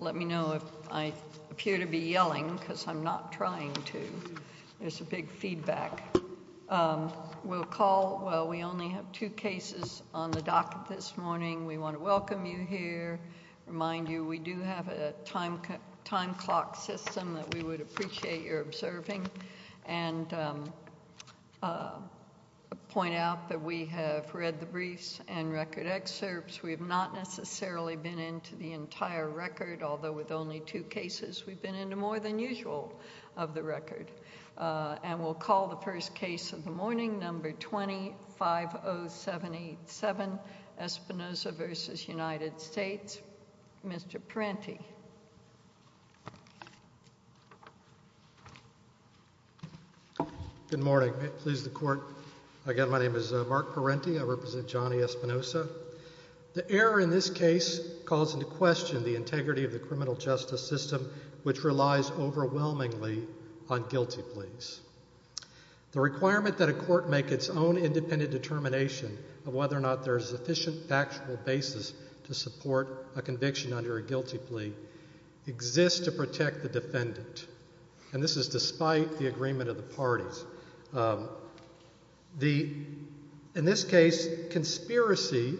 Let me know if I appear to be yelling, because I'm not trying to. There's a big feedback. We'll call, well, we only have two cases on the docket this morning. We want to welcome you here, remind you we do have a time clock system that we would appreciate your observing, and point out that we have read the briefs and record excerpts. We have not necessarily been into the entire record, although with only two cases, we've been into more than usual of the record. And we'll call the first case of the morning, number 250787, Espinosa v. United States. Mr. Parenti. Please, the Court. Again, my name is Mark Parenti. I represent Johnny Espinosa. The error in this case calls into question the integrity of the criminal justice system, which relies overwhelmingly on guilty pleas. The requirement that a court make its own independent determination of whether or not there is sufficient factual basis to support a conviction under a guilty plea exists to protect the defendant. And this is despite the agreement of the parties. In this case, conspiracy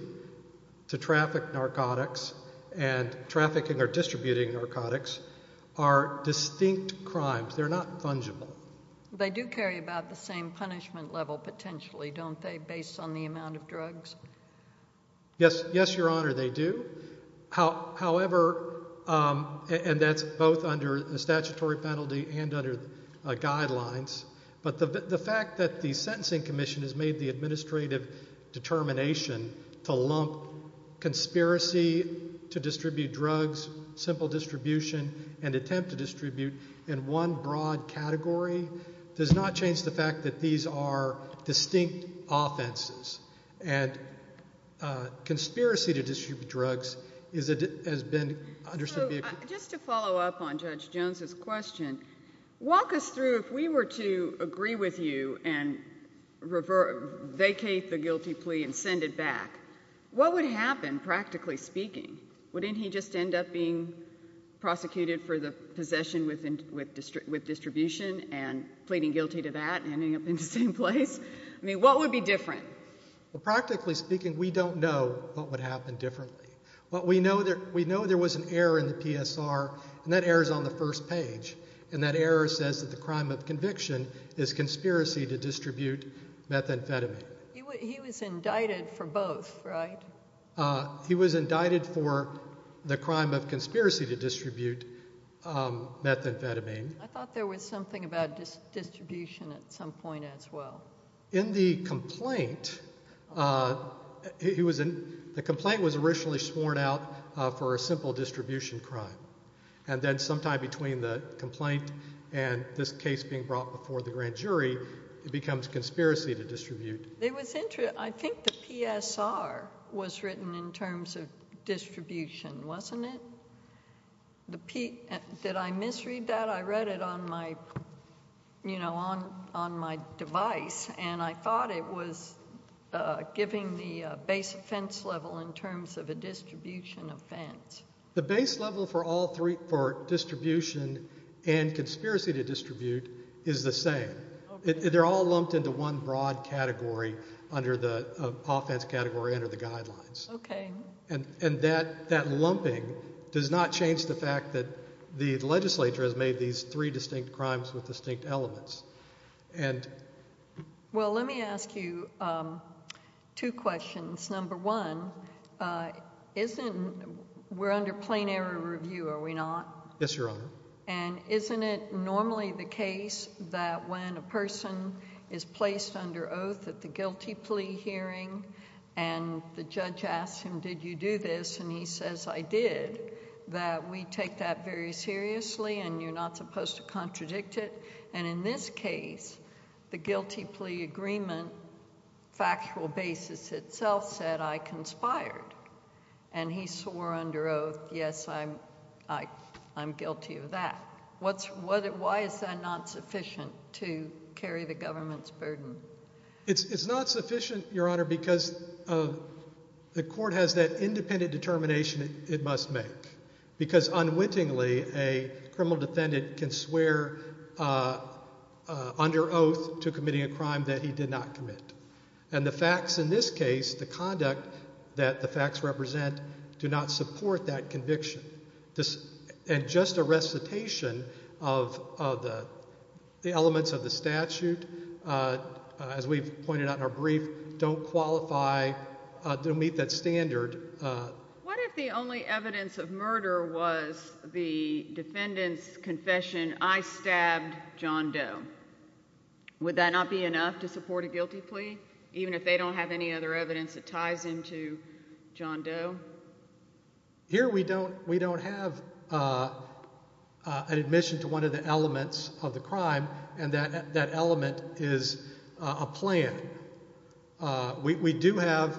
to traffic narcotics and trafficking or distributing narcotics are distinct crimes. They're not fungible. They do carry about the same punishment level, potentially, don't they, based on the amount of drugs? Yes, Your Honor, they do. However, and that's both under a statutory penalty and under guidelines, but the fact that the Sentencing Commission has made the administrative determination to lump conspiracy to distribute drugs, simple distribution, and attempt to distribute in one broad category does not change the fact that these are distinct offenses. And conspiracy to distribute drugs has been understood to be a crime. So just to follow up on Judge Jones's question, walk us through, if we were to agree with you and vacate the guilty plea and send it back, what would happen, practically speaking? Wouldn't he just end up being prosecuted for the possession with distribution and pleading guilty to that and ending up in the same place? I mean, what would be different? Well, practically speaking, we don't know what would happen differently. But we know there was an error in the PSR, and that error is on the first page, and that error says that the crime of conviction is conspiracy to distribute methamphetamine. He was indicted for both, right? He was indicted for the crime of conspiracy to distribute methamphetamine. I thought there was something about distribution at some point as well. In the complaint, the complaint was originally sworn out for a simple distribution crime. And then sometime between the complaint and this case being brought before the grand jury, it becomes conspiracy to distribute. I think the PSR was written in terms of distribution, wasn't it? Did I misread that? I read it on my device, and I thought it was giving the base offense level in terms of a distribution offense. The base level for distribution and conspiracy to distribute is the same. They're all lumped into one broad category under the offense category under the guidelines. Okay. And that lumping does not change the fact that the legislature has made these three distinct crimes with distinct elements. Well, let me ask you two questions. Number one, we're under plain error review, are we not? Yes, Your Honor. And isn't it normally the case that when a person is placed under oath at the guilty plea hearing and the judge asks him, did you do this? And he says, I did, that we take that very seriously and you're not supposed to contradict it. And in this case, the guilty plea agreement factual basis itself said I conspired. And he swore under oath, yes, I'm guilty of that. Why is that not sufficient to carry the government's burden? It's not sufficient, Your Honor, because the court has that independent determination it must make, because unwittingly a criminal defendant can swear under oath to committing a crime that he did not commit. And the facts in this case, the conduct that the facts represent, do not support that conviction. And just a recitation of the elements of the statute, as we've pointed out in our brief, don't qualify, don't meet that standard. What if the only evidence of murder was the defendant's confession, I stabbed John Doe? Would that not be enough to support a guilty plea, even if they don't have any other evidence that ties into John Doe? Here we don't have an admission to one of the elements of the crime, and that element is a plan. We do have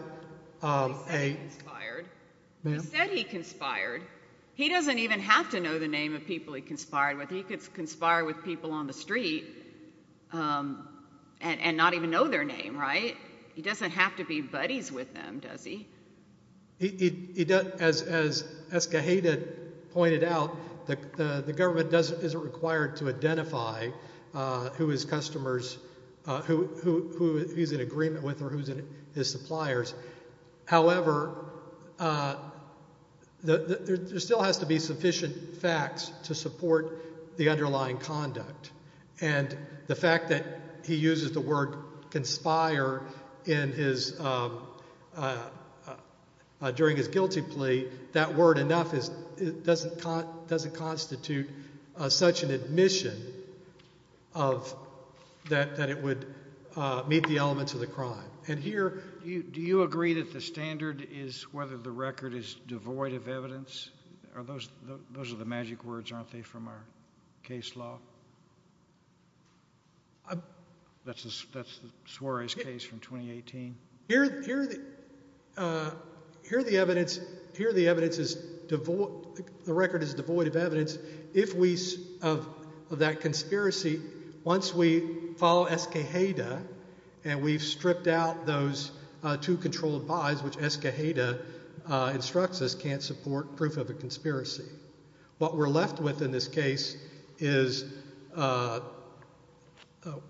a- He said he conspired. He said he conspired. He doesn't even have to know the name of people he conspired with. He could conspire with people on the street and not even know their name, right? He doesn't have to be buddies with them, does he? He doesn't, as Escajeda pointed out, the government isn't required to identify who his customers, who he's in agreement with or who's his suppliers. However, there still has to be sufficient facts to support the underlying conduct. And the fact that he uses the word conspire during his guilty plea, that word enough doesn't constitute such an admission that it would meet the elements of the crime. And here- Do you agree that the standard is whether the record is devoid of evidence? Those are the magic words, aren't they, from our case law? That's Suarez's case from 2018. Here the evidence is- the record is devoid of evidence. If we- of that conspiracy, once we follow Escajeda and we've stripped out those two controlled bodies, which Escajeda instructs us can't support proof of a conspiracy. What we're left with in this case is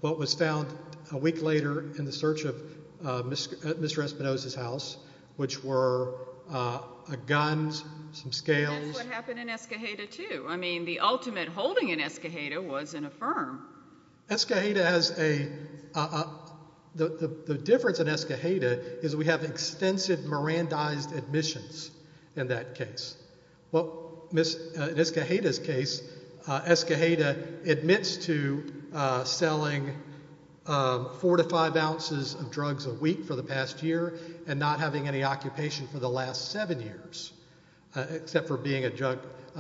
what was found a week later in the search of Mr. Espinosa's house, which were guns, some scales- And that's what happened in Escajeda, too. I mean, the ultimate holding in Escajeda was in a firm. Escajeda has a- the difference in Escajeda is we have extensive Mirandized admissions in that case. In Escajeda's case, Escajeda admits to selling four to five ounces of drugs a week for the past year and not having any occupation for the last seven years, except for being a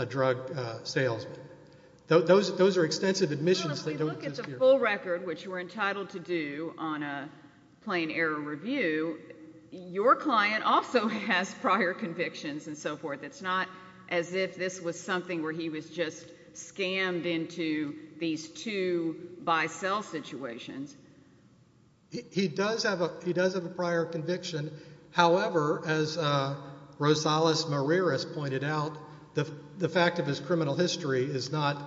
drug salesman. Those are extensive admissions- That's a full record, which we're entitled to do on a plain error review. Your client also has prior convictions and so forth. It's not as if this was something where he was just scammed into these two buy-sell situations. He does have a prior conviction. However, as Rosales Marirez pointed out, the fact of his criminal history is not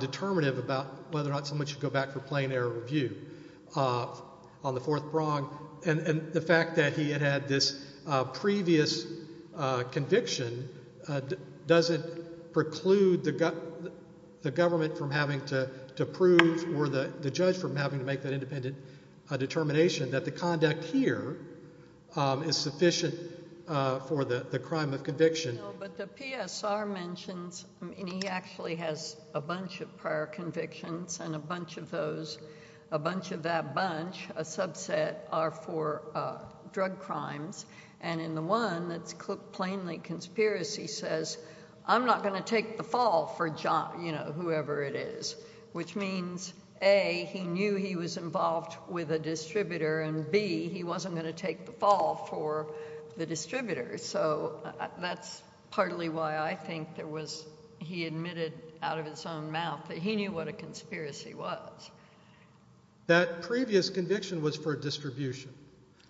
determinative about whether or not someone should go back for a plain error review on the fourth prong. And the fact that he had had this previous conviction doesn't preclude the government from having to prove or the judge from having to make that independent determination that the conduct here is sufficient for the crime of conviction. But the PSR mentions, and he actually has a bunch of prior convictions, and a bunch of those, a bunch of that bunch, a subset, are for drug crimes. And in the one that's plainly conspiracy says, I'm not going to take the fall for whoever it is. Which means, A, he knew he was involved with a distributor, and B, he wasn't going to take the fall for the distributor. So that's partly why I think there was – he admitted out of his own mouth that he knew what a conspiracy was. That previous conviction was for a distribution.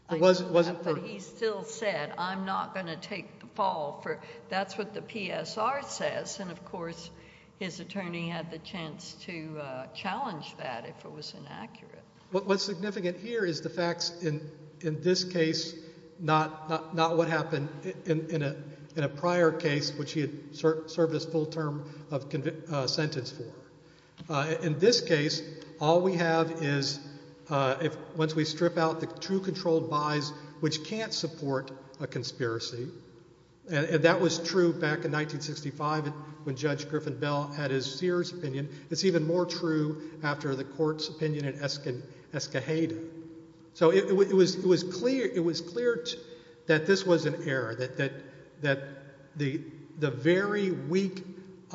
But he still said, I'm not going to take the fall for – that's what the PSR says. And, of course, his attorney had the chance to challenge that if it was inaccurate. What's significant here is the facts in this case, not what happened in a prior case, which he had served his full term of sentence for. In this case, all we have is, once we strip out the true controlled buys, which can't support a conspiracy. And that was true back in 1965 when Judge Griffin Bell had his Sears opinion. It's even more true after the court's opinion in Escajeda. So it was clear that this was an error, that the very weak –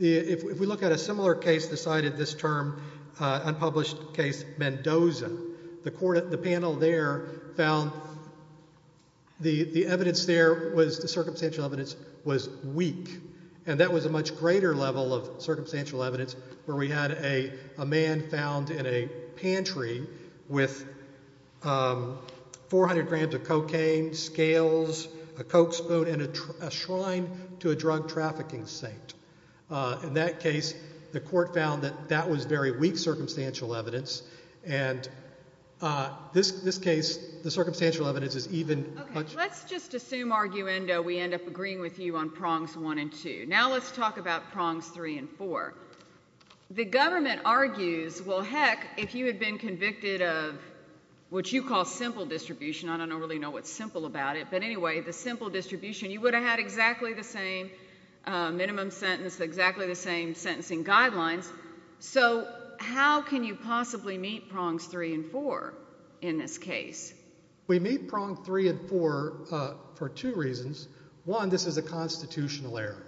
if we look at a similar case, the side of this term, unpublished case Mendoza, the panel there found the evidence there was – the circumstantial evidence was weak. And that was a much greater level of circumstantial evidence where we had a man found in a pantry with 400 grams of cocaine, scales, a Coke spoon, and a shrine to a drug trafficking saint. In that case, the court found that that was very weak circumstantial evidence. And this case, the circumstantial evidence is even – Let's just assume, arguendo, we end up agreeing with you on prongs one and two. Now let's talk about prongs three and four. The government argues, well, heck, if you had been convicted of what you call simple distribution – I don't really know what's simple about it – but anyway, the simple distribution, you would have had exactly the same minimum sentence, exactly the same sentencing guidelines. So how can you possibly meet prongs three and four in this case? We meet prong three and four for two reasons. One, this is a constitutional error.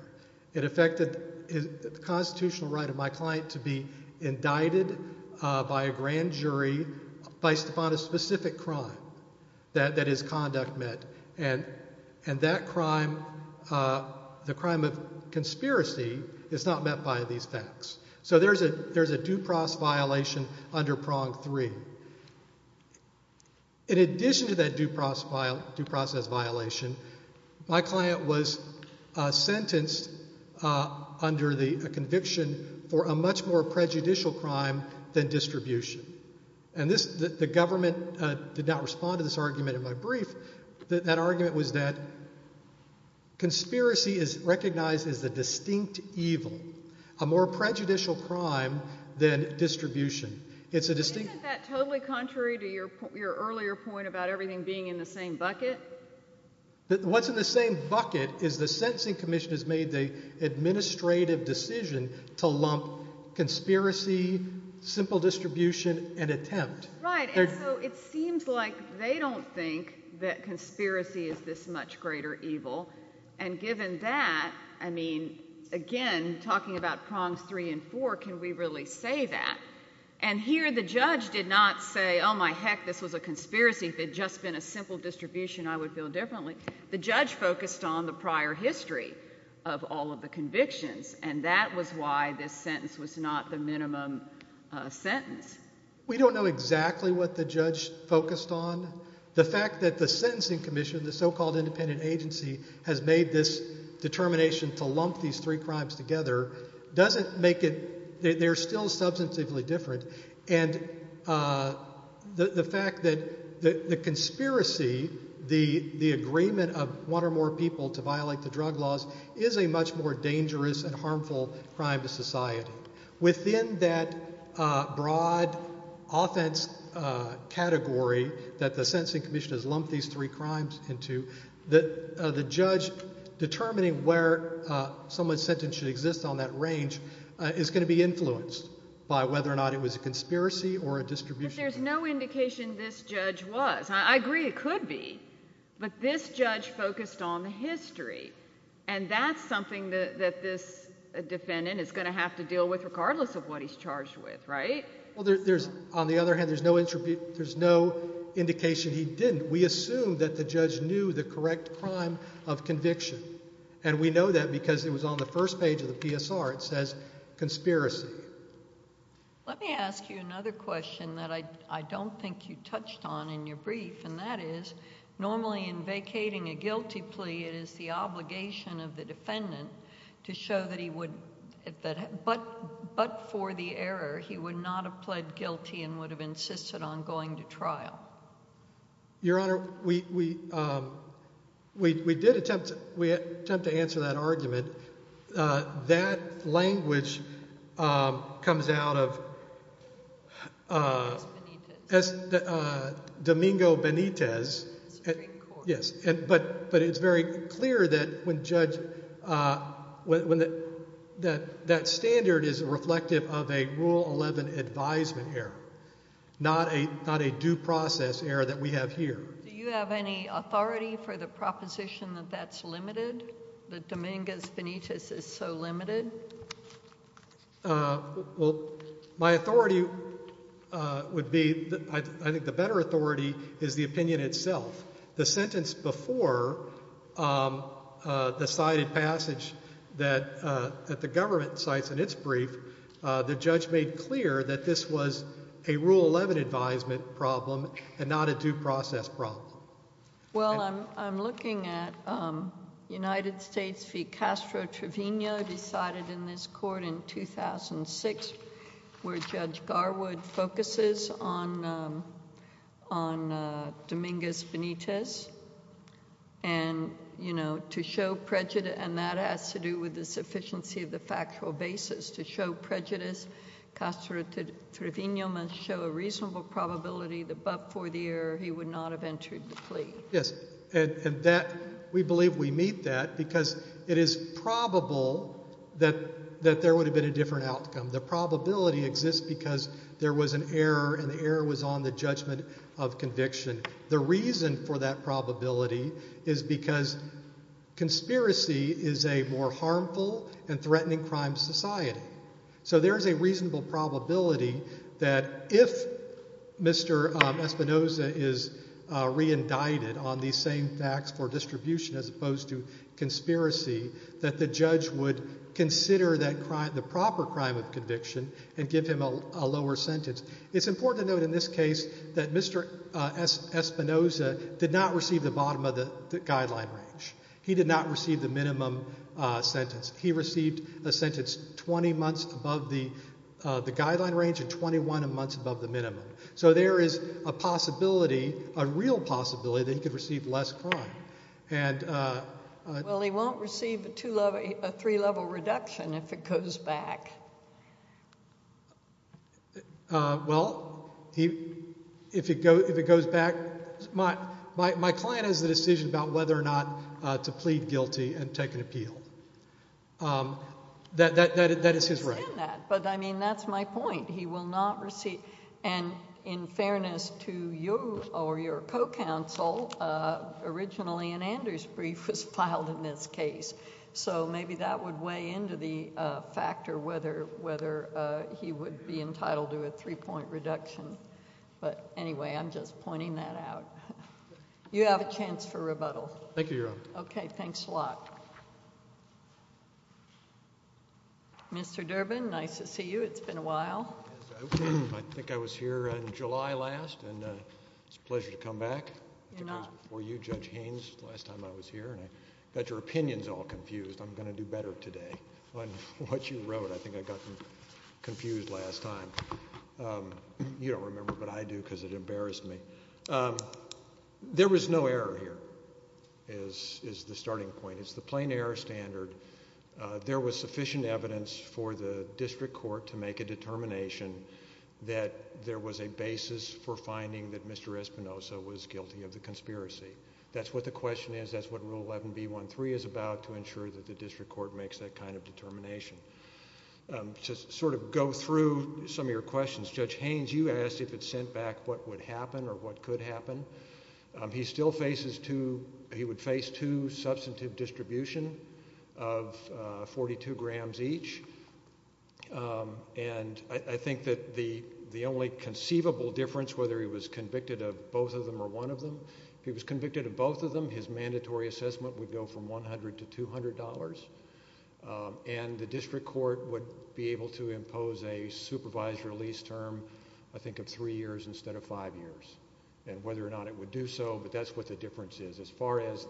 It affected the constitutional right of my client to be indicted by a grand jury based upon a specific crime that his conduct met. And that crime, the crime of conspiracy, is not met by these facts. So there's a due process violation under prong three. In addition to that due process violation, my client was sentenced under a conviction for a much more prejudicial crime than distribution. And the government did not respond to this argument in my brief. That argument was that conspiracy is recognized as a distinct evil, a more prejudicial crime than distribution. Isn't that totally contrary to your earlier point about everything being in the same bucket? What's in the same bucket is the sentencing commission has made the administrative decision to lump conspiracy, simple distribution, and attempt. Right, and so it seems like they don't think that conspiracy is this much greater evil. And given that, I mean, again, talking about prongs three and four, can we really say that? And here the judge did not say, oh, my heck, this was a conspiracy. If it had just been a simple distribution, I would feel differently. The judge focused on the prior history of all of the convictions, and that was why this sentence was not the minimum sentence. We don't know exactly what the judge focused on. The fact that the sentencing commission, the so-called independent agency, has made this determination to lump these three crimes together doesn't make it. They're still substantively different. And the fact that the conspiracy, the agreement of one or more people to violate the drug laws, is a much more dangerous and harmful crime to society. Within that broad offense category that the sentencing commission has lumped these three crimes into, the judge determining where someone's sentence should exist on that range is going to be influenced by whether or not it was a conspiracy or a distribution. But there's no indication this judge was. I agree it could be. But this judge focused on the history. And that's something that this defendant is going to have to deal with regardless of what he's charged with, right? Well, on the other hand, there's no indication he didn't. We assume that the judge knew the correct crime of conviction. And we know that because it was on the first page of the PSR. It says conspiracy. Let me ask you another question that I don't think you touched on in your brief, and that is, normally in vacating a guilty plea it is the obligation of the defendant to show that he would, but for the error, he would not have pled guilty and would have insisted on going to trial. Your Honor, we did attempt to answer that argument. That language comes out of Domingo Benitez. Yes, but it's very clear that when judge, that standard is reflective of a Rule 11 advisement error, not a due process error that we have here. Do you have any authority for the proposition that that's limited, that Domingo Benitez is so limited? Well, my authority would be, I think the better authority is the opinion itself. The sentence before the cited passage that the government cites in its brief, the judge made clear that this was a Rule 11 advisement problem and not a due process problem. Well, I'm looking at United States v. Castro Trevino decided in this court in 2006, where Judge Garwood focuses on Domingo Benitez. And, you know, to show prejudice, and that has to do with the sufficiency of the factual basis. To show prejudice, Castro Trevino must show a reasonable probability that, but for the error, he would not have entered the plea. Yes, and that, we believe we meet that because it is probable that there would have been a different outcome. The probability exists because there was an error and the error was on the judgment of conviction. The reason for that probability is because conspiracy is a more harmful and threatening crime society. So there is a reasonable probability that if Mr. Espinoza is re-indicted on these same facts for distribution, as opposed to conspiracy, that the judge would consider the proper crime of conviction and give him a lower sentence. It's important to note in this case that Mr. Espinoza did not receive the bottom of the guideline range. He did not receive the minimum sentence. He received a sentence 20 months above the guideline range and 21 months above the minimum. So there is a possibility, a real possibility, that he could receive less crime. Well, he won't receive a three-level reduction if it goes back. Well, if it goes back, my client has the decision about whether or not to plead guilty and take an appeal. That is his right. But I mean, that's my point. He will not receive, and in fairness to you or your co-counsel, originally an Anders brief was filed in this case. So maybe that would weigh into the factor whether he would be entitled to a three-point reduction. But anyway, I'm just pointing that out. You have a chance for rebuttal. Okay, thanks a lot. Mr. Durbin, nice to see you. It's been a while. I think I was here in July last, and it's a pleasure to come back. I think I was before you, Judge Haynes, the last time I was here, and I got your opinions all confused. I'm going to do better today on what you wrote. I think I got them confused last time. You don't remember, but I do because it embarrassed me. There was no error here is the starting point. It's the plain error standard. There was sufficient evidence for the district court to make a determination that there was a basis for finding that Mr. Espinosa was guilty of the conspiracy. That's what the question is. That's what Rule 11B13 is about, to ensure that the district court makes that kind of determination. To sort of go through some of your questions, Judge Haynes, you asked if it sent back what would happen or what could happen. He would face two substantive distribution of 42 grams each, and I think that the only conceivable difference, whether he was convicted of both of them or one of them, if he was convicted of both of them, his mandatory assessment would go from $100 to $200, and the district court would be able to impose a supervised release term, I think, of three years instead of five years, and whether or not it would do so. But that's what the difference is. As far as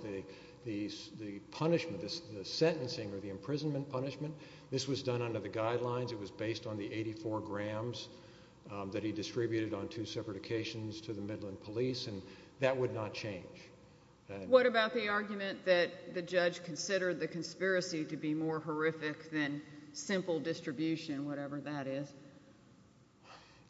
the punishment, the sentencing or the imprisonment punishment, this was done under the guidelines. It was based on the 84 grams that he distributed on two separate occasions to the Midland police, and that would not change. What about the argument that the judge considered the conspiracy to be more horrific than simple distribution, whatever that is?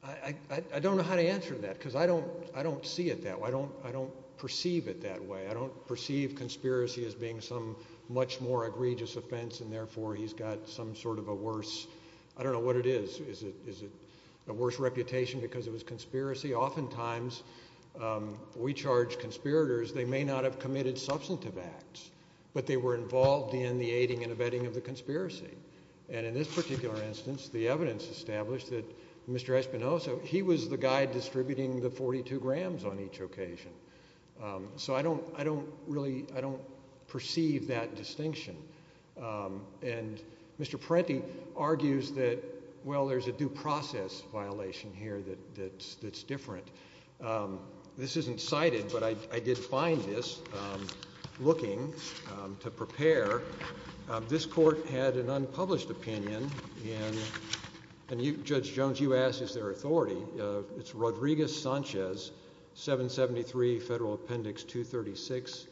I don't know how to answer that because I don't see it that way. I don't perceive it that way. I don't perceive conspiracy as being some much more egregious offense, and therefore he's got some sort of a worse – I don't know what it is. Is it a worse reputation because it was conspiracy? Oftentimes, we charge conspirators they may not have committed substantive acts, but they were involved in the aiding and abetting of the conspiracy. And in this particular instance, the evidence established that Mr. Espinosa, he was the guy distributing the 42 grams on each occasion. So I don't really – I don't perceive that distinction. And Mr. Parenti argues that, well, there's a due process violation here that's different. This isn't cited, but I did find this looking to prepare. This court had an unpublished opinion, and Judge Jones, you asked, is there authority? It's Rodriguez-Sanchez, 773 Federal Appendix 236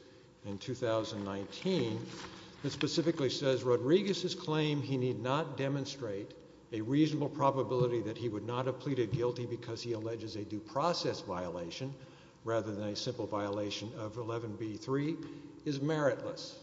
in 2019. It specifically says, Rodriguez's claim he need not demonstrate a reasonable probability that he would not have pleaded guilty because he alleges a due process violation rather than a simple violation of 11b-3 is meritless.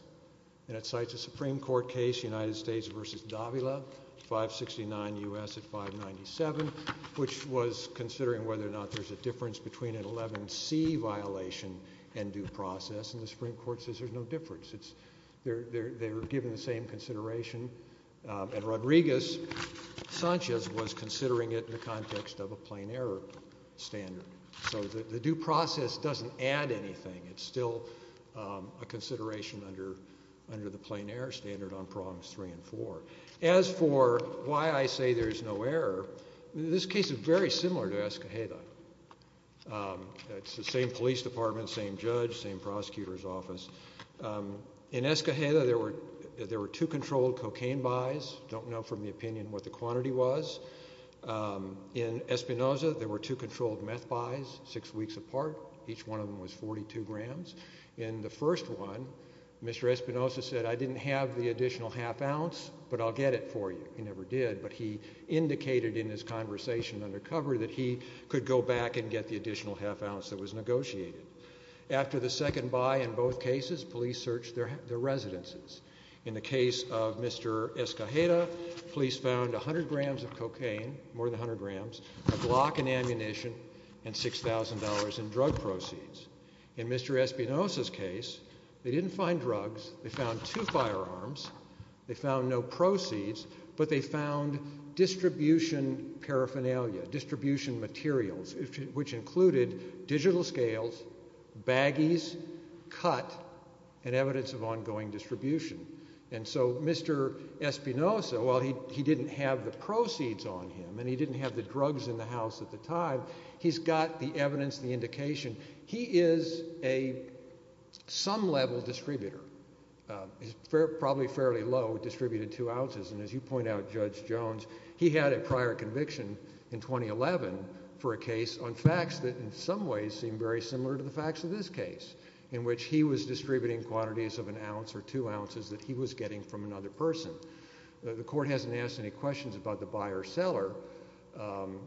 And it cites a Supreme Court case, United States v. Davila, 569 U.S. at 597, which was considering whether or not there's a difference between an 11c violation and due process. And the Supreme Court says there's no difference. They were given the same consideration. And Rodriguez-Sanchez was considering it in the context of a plain error standard. So the due process doesn't add anything. It's still a consideration under the plain error standard on prongs three and four. As for why I say there's no error, this case is very similar to Escajeda. It's the same police department, same judge, same prosecutor's office. In Escajeda, there were two controlled cocaine buys. Don't know from the opinion what the quantity was. In Espinoza, there were two controlled meth buys six weeks apart. Each one of them was 42 grams. In the first one, Mr. Espinoza said, I didn't have the additional half ounce, but I'll get it for you. He never did. But he indicated in his conversation under cover that he could go back and get the additional half ounce that was negotiated. After the second buy in both cases, police searched their residences. In the case of Mr. Escajeda, police found 100 grams of cocaine, more than 100 grams, a block in ammunition, and $6,000 in drug proceeds. In Mr. Espinoza's case, they didn't find drugs. They found two firearms. They found no proceeds, but they found distribution paraphernalia, distribution materials, which included digital scales, baggies, cut, and evidence of ongoing distribution. And so Mr. Espinoza, while he didn't have the proceeds on him and he didn't have the drugs in the house at the time, he's got the evidence, the indication. He is a some-level distributor. He's probably fairly low, distributed two ounces. And as you point out, Judge Jones, he had a prior conviction in 2011 for a case on facts that in some ways seem very similar to the facts of this case, in which he was distributing quantities of an ounce or two ounces that he was getting from another person. The court hasn't asked any questions about the buyer-seller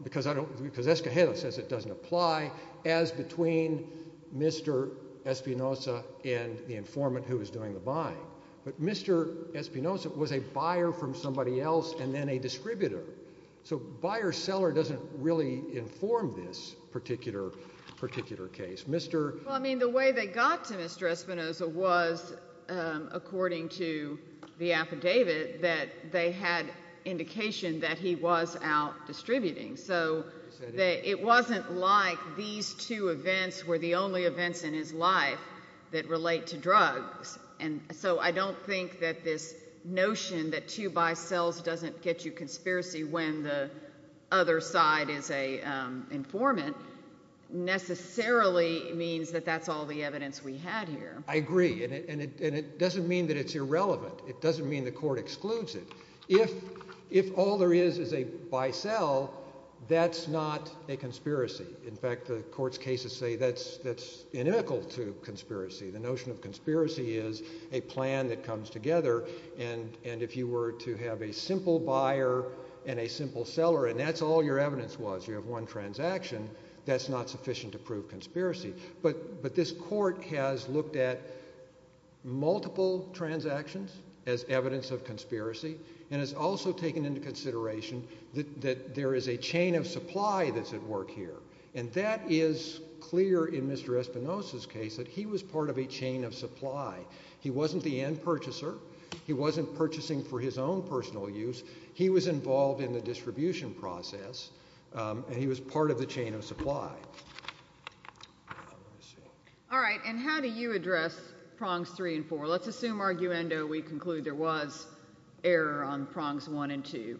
because Escajeda says it doesn't apply as between Mr. Espinoza and the informant who was doing the buying. But Mr. Espinoza was a buyer from somebody else and then a distributor. So buyer-seller doesn't really inform this particular case. Well, I mean, the way they got to Mr. Espinoza was, according to the affidavit, that they had indication that he was out distributing. So it wasn't like these two events were the only events in his life that relate to drugs. And so I don't think that this notion that two buy-sells doesn't get you conspiracy when the other side is an informant necessarily means that that's all the evidence we had here. I agree. And it doesn't mean that it's irrelevant. It doesn't mean the court excludes it. If all there is is a buy-sell, that's not a conspiracy. In fact, the court's cases say that's inimical to conspiracy. The notion of conspiracy is a plan that comes together, and if you were to have a simple buyer and a simple seller and that's all your evidence was, you have one transaction, that's not sufficient to prove conspiracy. But this court has looked at multiple transactions as evidence of conspiracy and has also taken into consideration that there is a chain of supply that's at work here. And that is clear in Mr. Espinosa's case that he was part of a chain of supply. He wasn't the end purchaser. He wasn't purchasing for his own personal use. He was involved in the distribution process, and he was part of the chain of supply. All right, and how do you address prongs three and four? Let's assume, arguendo, we conclude there was error on prongs one and two.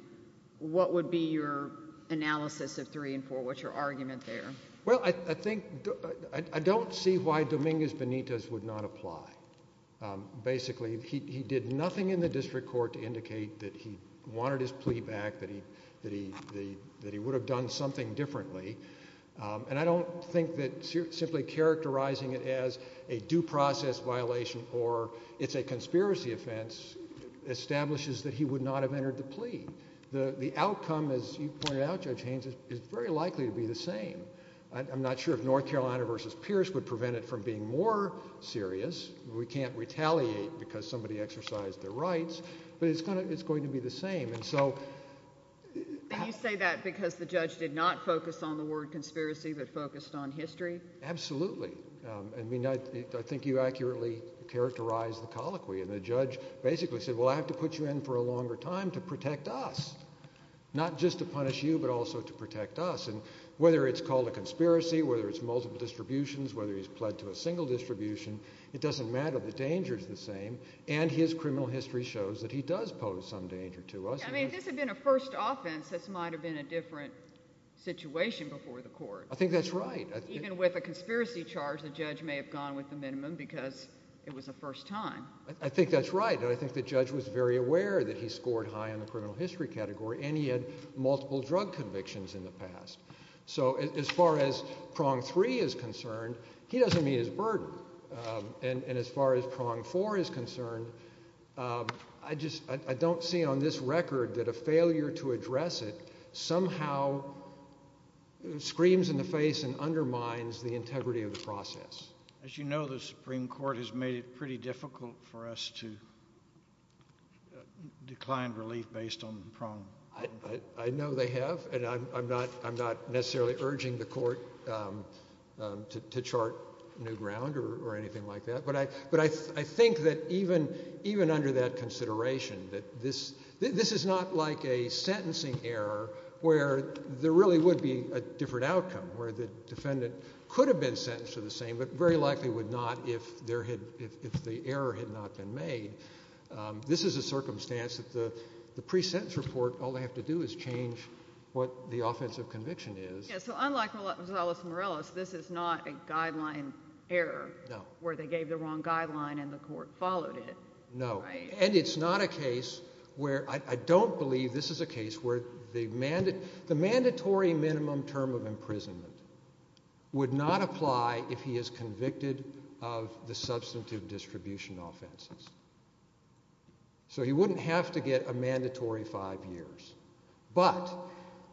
What would be your analysis of three and four? What's your argument there? Well, I think I don't see why Dominguez Benitez would not apply. Basically, he did nothing in the district court to indicate that he wanted his plea back, that he would have done something differently. And I don't think that simply characterizing it as a due process violation or it's a conspiracy offense establishes that he would not have entered the plea. The outcome, as you pointed out, Judge Haynes, is very likely to be the same. I'm not sure if North Carolina v. Pierce would prevent it from being more serious. We can't retaliate because somebody exercised their rights, but it's going to be the same. And you say that because the judge did not focus on the word conspiracy but focused on history? Absolutely. I mean, I think you accurately characterized the colloquy. And the judge basically said, well, I have to put you in for a longer time to protect us, not just to punish you but also to protect us. And whether it's called a conspiracy, whether it's multiple distributions, whether he's pled to a single distribution, it doesn't matter. The danger is the same, and his criminal history shows that he does pose some danger to us. I mean, if this had been a first offense, this might have been a different situation before the court. I think that's right. Even with a conspiracy charge, the judge may have gone with the minimum because it was a first time. I think that's right. I think the judge was very aware that he scored high on the criminal history category, and he had multiple drug convictions in the past. So as far as prong three is concerned, he doesn't meet his burden. And as far as prong four is concerned, I don't see on this record that a failure to address it somehow screams in the face and undermines the integrity of the process. As you know, the Supreme Court has made it pretty difficult for us to decline relief based on prong. I know they have, and I'm not necessarily urging the court to chart new ground or anything like that. But I think that even under that consideration, that this is not like a sentencing error where there really would be a different outcome, where the defendant could have been sentenced to the same but very likely would not if the error had not been made. This is a circumstance that the pre-sentence report, all they have to do is change what the offensive conviction is. So unlike Gonzalez-Morales, this is not a guideline error where they gave the wrong guideline and the court followed it. No. And it's not a case where – I don't believe this is a case where the mandatory minimum term of imprisonment would not apply if he is convicted of the substantive distribution offenses. So he wouldn't have to get a mandatory five years. But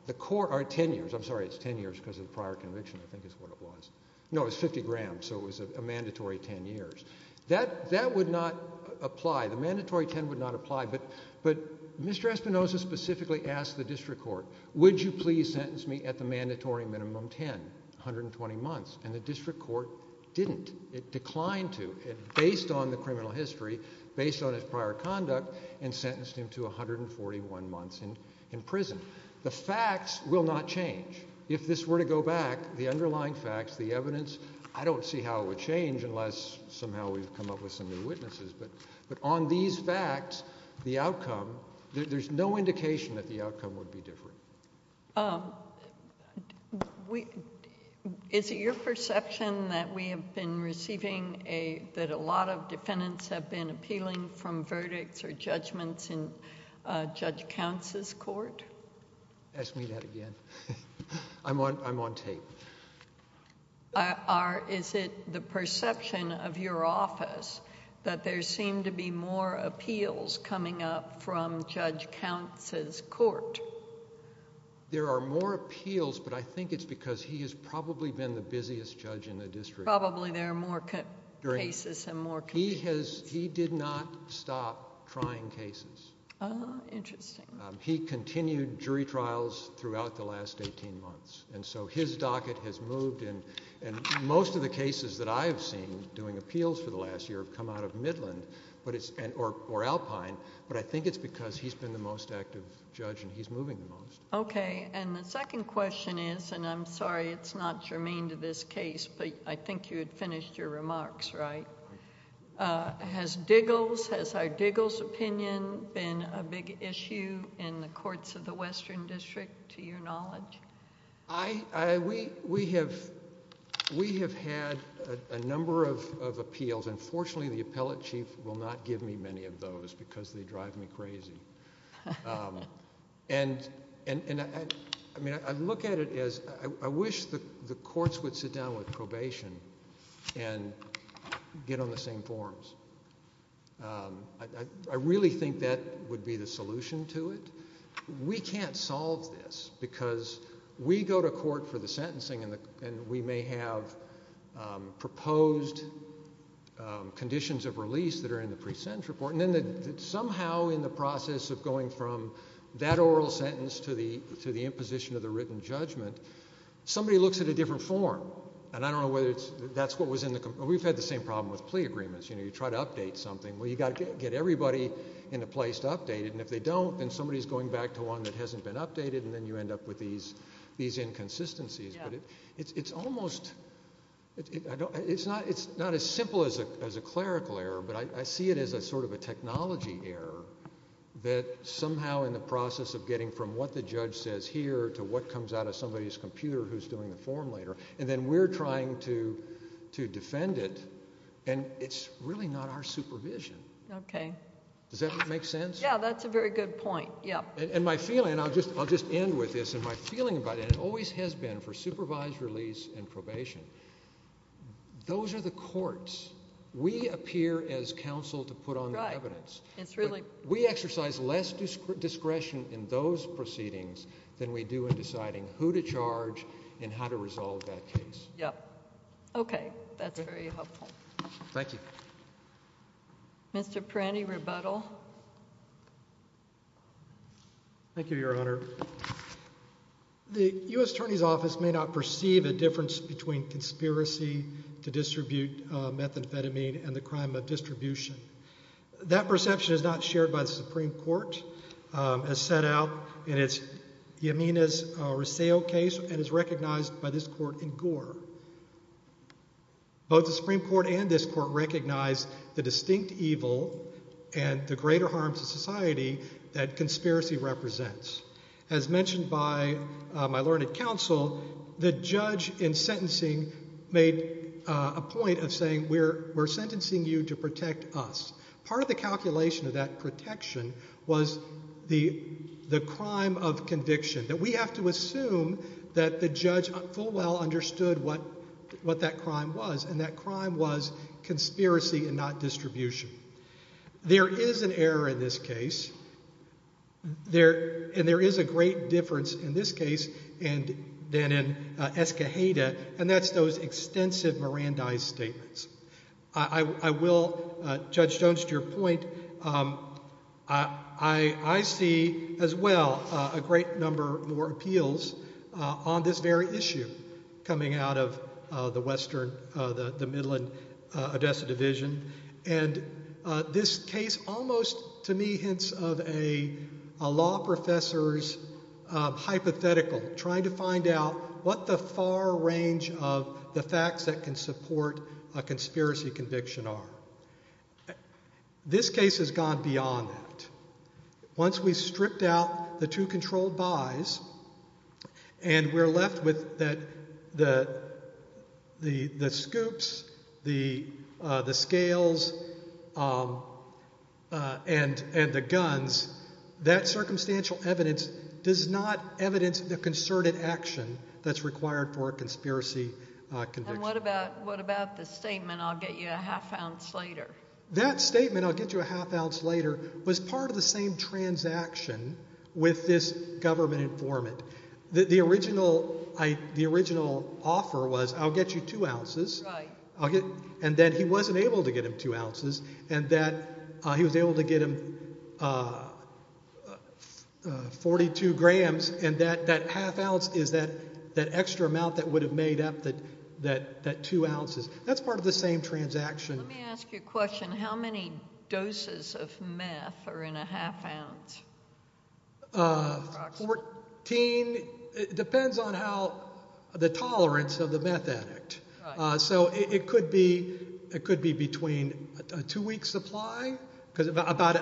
the court – or ten years. I'm sorry, it's ten years because of the prior conviction I think is what it was. No, it was 50 grams, so it was a mandatory ten years. That would not apply. The mandatory ten would not apply. But Mr. Espinosa specifically asked the district court, would you please sentence me at the mandatory minimum ten, 120 months? And the district court didn't. It declined to, based on the criminal history, based on his prior conduct, and sentenced him to 141 months in prison. The facts will not change. If this were to go back, the underlying facts, the evidence, I don't see how it would change unless somehow we've come up with some new witnesses. But on these facts, the outcome – there's no indication that the outcome would be different. Is it your perception that we have been receiving a – that a lot of defendants have been appealing from verdicts or judgments in Judge Counts' court? Ask me that again. I'm on tape. Is it the perception of your office that there seem to be more appeals coming up from Judge Counts' court? There are more appeals, but I think it's because he has probably been the busiest judge in the district. Probably there are more cases and more convictions. He did not stop trying cases. Interesting. He continued jury trials throughout the last 18 months. And so his docket has moved. And most of the cases that I have seen doing appeals for the last year have come out of Midland or Alpine. But I think it's because he's been the most active judge and he's moving the most. Okay. And the second question is – and I'm sorry it's not germane to this case, but I think you had finished your remarks, right? Has Diggle's – has our Diggle's opinion been a big issue in the courts of the Western District to your knowledge? We have had a number of appeals, and fortunately the appellate chief will not give me many of those because they drive me crazy. And, I mean, I look at it as I wish the courts would sit down with probation and get on the same forms. I really think that would be the solution to it. We can't solve this because we go to court for the sentencing and we may have proposed conditions of release that are in the pre-sentence report. And then somehow in the process of going from that oral sentence to the imposition of the written judgment, somebody looks at a different form. And I don't know whether that's what was in the – we've had the same problem with plea agreements. You try to update something. Well, you've got to get everybody in a place to update it. And if they don't, then somebody is going back to one that hasn't been updated, and then you end up with these inconsistencies. It's almost – it's not as simple as a clerical error, but I see it as a sort of a technology error that somehow in the process of getting from what the judge says here to what comes out of somebody's computer who is doing the form later, and then we're trying to defend it, and it's really not our supervision. Okay. Does that make sense? Yeah, that's a very good point. And my feeling – and I'll just end with this – and my feeling about it always has been for supervised release and probation, those are the courts. We appear as counsel to put on the evidence. Right. It's really – We exercise less discretion in those proceedings than we do in deciding who to charge and how to resolve that case. Yeah. Okay. That's very helpful. Thank you. Mr. Perani, rebuttal. Thank you, Your Honor. The U.S. Attorney's Office may not perceive a difference between conspiracy to distribute methamphetamine and the crime of distribution. That perception is not shared by the Supreme Court as set out in its – Yamina's Risseo case and is recognized by this court in Gore. Both the Supreme Court and this court recognize the distinct evil and the greater harm to society that conspiracy represents. As mentioned by my learned counsel, the judge in sentencing made a point of saying, we're sentencing you to protect us. Part of the calculation of that protection was the crime of conviction, that we have to assume that the judge full well understood what that crime was, and that crime was conspiracy and not distribution. There is an error in this case, and there is a great difference in this case than in Escajeda, and that's those extensive Mirandize statements. I will, Judge Jones, to your point, I see as well a great number more appeals on this very issue coming out of the Western, the Midland-Odessa Division. And this case almost, to me, hints of a law professor's hypothetical, trying to find out what the far range of the facts that can support a conspiracy conviction are. This case has gone beyond that. Once we've stripped out the two controlled buys and we're left with the scoops, the scales, and the guns, that circumstantial evidence does not evidence the concerted action that's required for a conspiracy conviction. And what about the statement, I'll get you a half ounce later? That statement, I'll get you a half ounce later, was part of the same transaction with this government informant. The original offer was I'll get you two ounces, and then he wasn't able to get him two ounces, and that he was able to get him 42 grams, and that half ounce is that extra amount that would have made up that two ounces. That's part of the same transaction. Let me ask you a question. How many doses of meth are in a half ounce? Fourteen. It depends on how, the tolerance of the meth addict. So it could be between a two-week supply, because about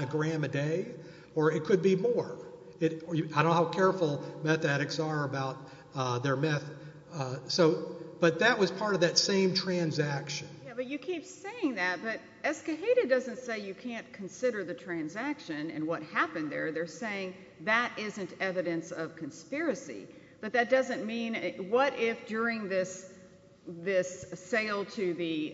a gram a day, or it could be more. I don't know how careful meth addicts are about their meth. But that was part of that same transaction. Yeah, but you keep saying that, but Escoheda doesn't say you can't consider the transaction and what happened there. They're saying that isn't evidence of conspiracy. But that doesn't mean, what if during this sale to the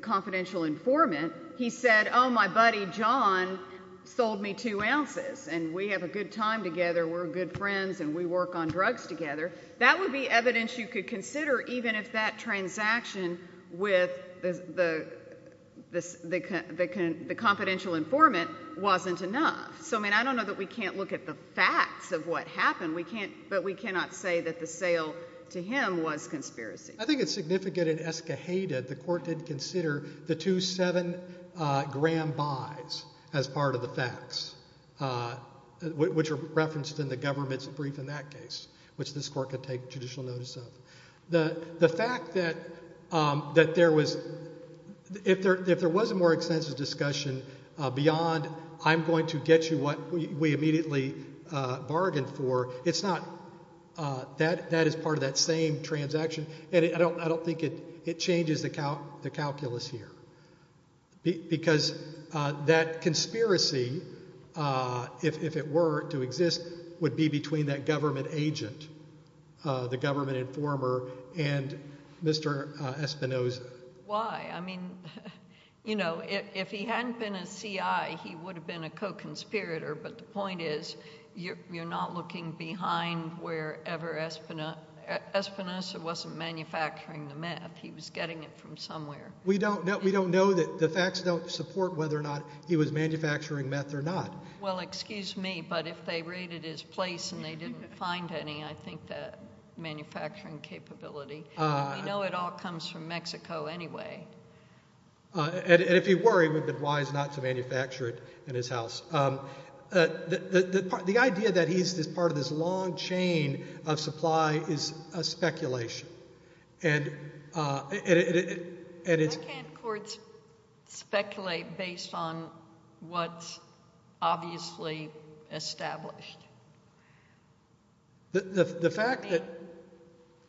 confidential informant, he said, Oh, my buddy John sold me two ounces, and we have a good time together, we're good friends, and we work on drugs together. That would be evidence you could consider, even if that transaction with the confidential informant wasn't enough. So, I mean, I don't know that we can't look at the facts of what happened, but we cannot say that the sale to him was conspiracy. I think it's significant in Escoheda the court did consider the two seven-gram buys as part of the facts, which are referenced in the government's brief in that case, which this court could take judicial notice of. The fact that there was, if there was a more extensive discussion beyond I'm going to get you what we immediately bargained for, it's not, that is part of that same transaction, and I don't think it changes the calculus here. Because that conspiracy, if it were to exist, would be between that government agent, the government informer, and Mr. Espinoza. Why? I mean, you know, if he hadn't been a CI, he would have been a co-conspirator, but the point is you're not looking behind wherever Espinoza, Espinoza wasn't manufacturing the meth, he was getting it from somewhere. We don't know, we don't know that the facts don't support whether or not he was manufacturing meth or not. Well, excuse me, but if they raided his place and they didn't find any, I think that manufacturing capability. We know it all comes from Mexico anyway. And if he were, he would have been wise not to manufacture it in his house. The idea that he's part of this long chain of supply is a speculation. Why can't courts speculate based on what's obviously established? The fact that-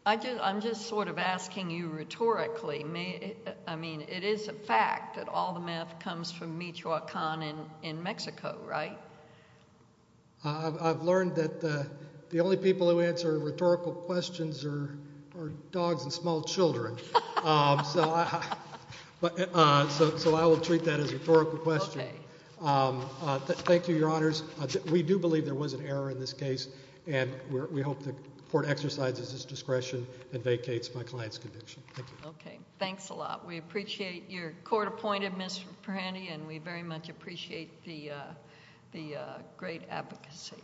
I'm just sort of asking you rhetorically. I mean, it is a fact that all the meth comes from Michoacan in Mexico, right? I've learned that the only people who answer rhetorical questions are dogs and small children. So I will treat that as a rhetorical question. Thank you, Your Honors. We do believe there was an error in this case. And we hope the court exercises its discretion and vacates my client's conviction. Thank you. Okay, thanks a lot. We appreciate your court appointed, Ms. Perani, and we very much appreciate the great advocacy.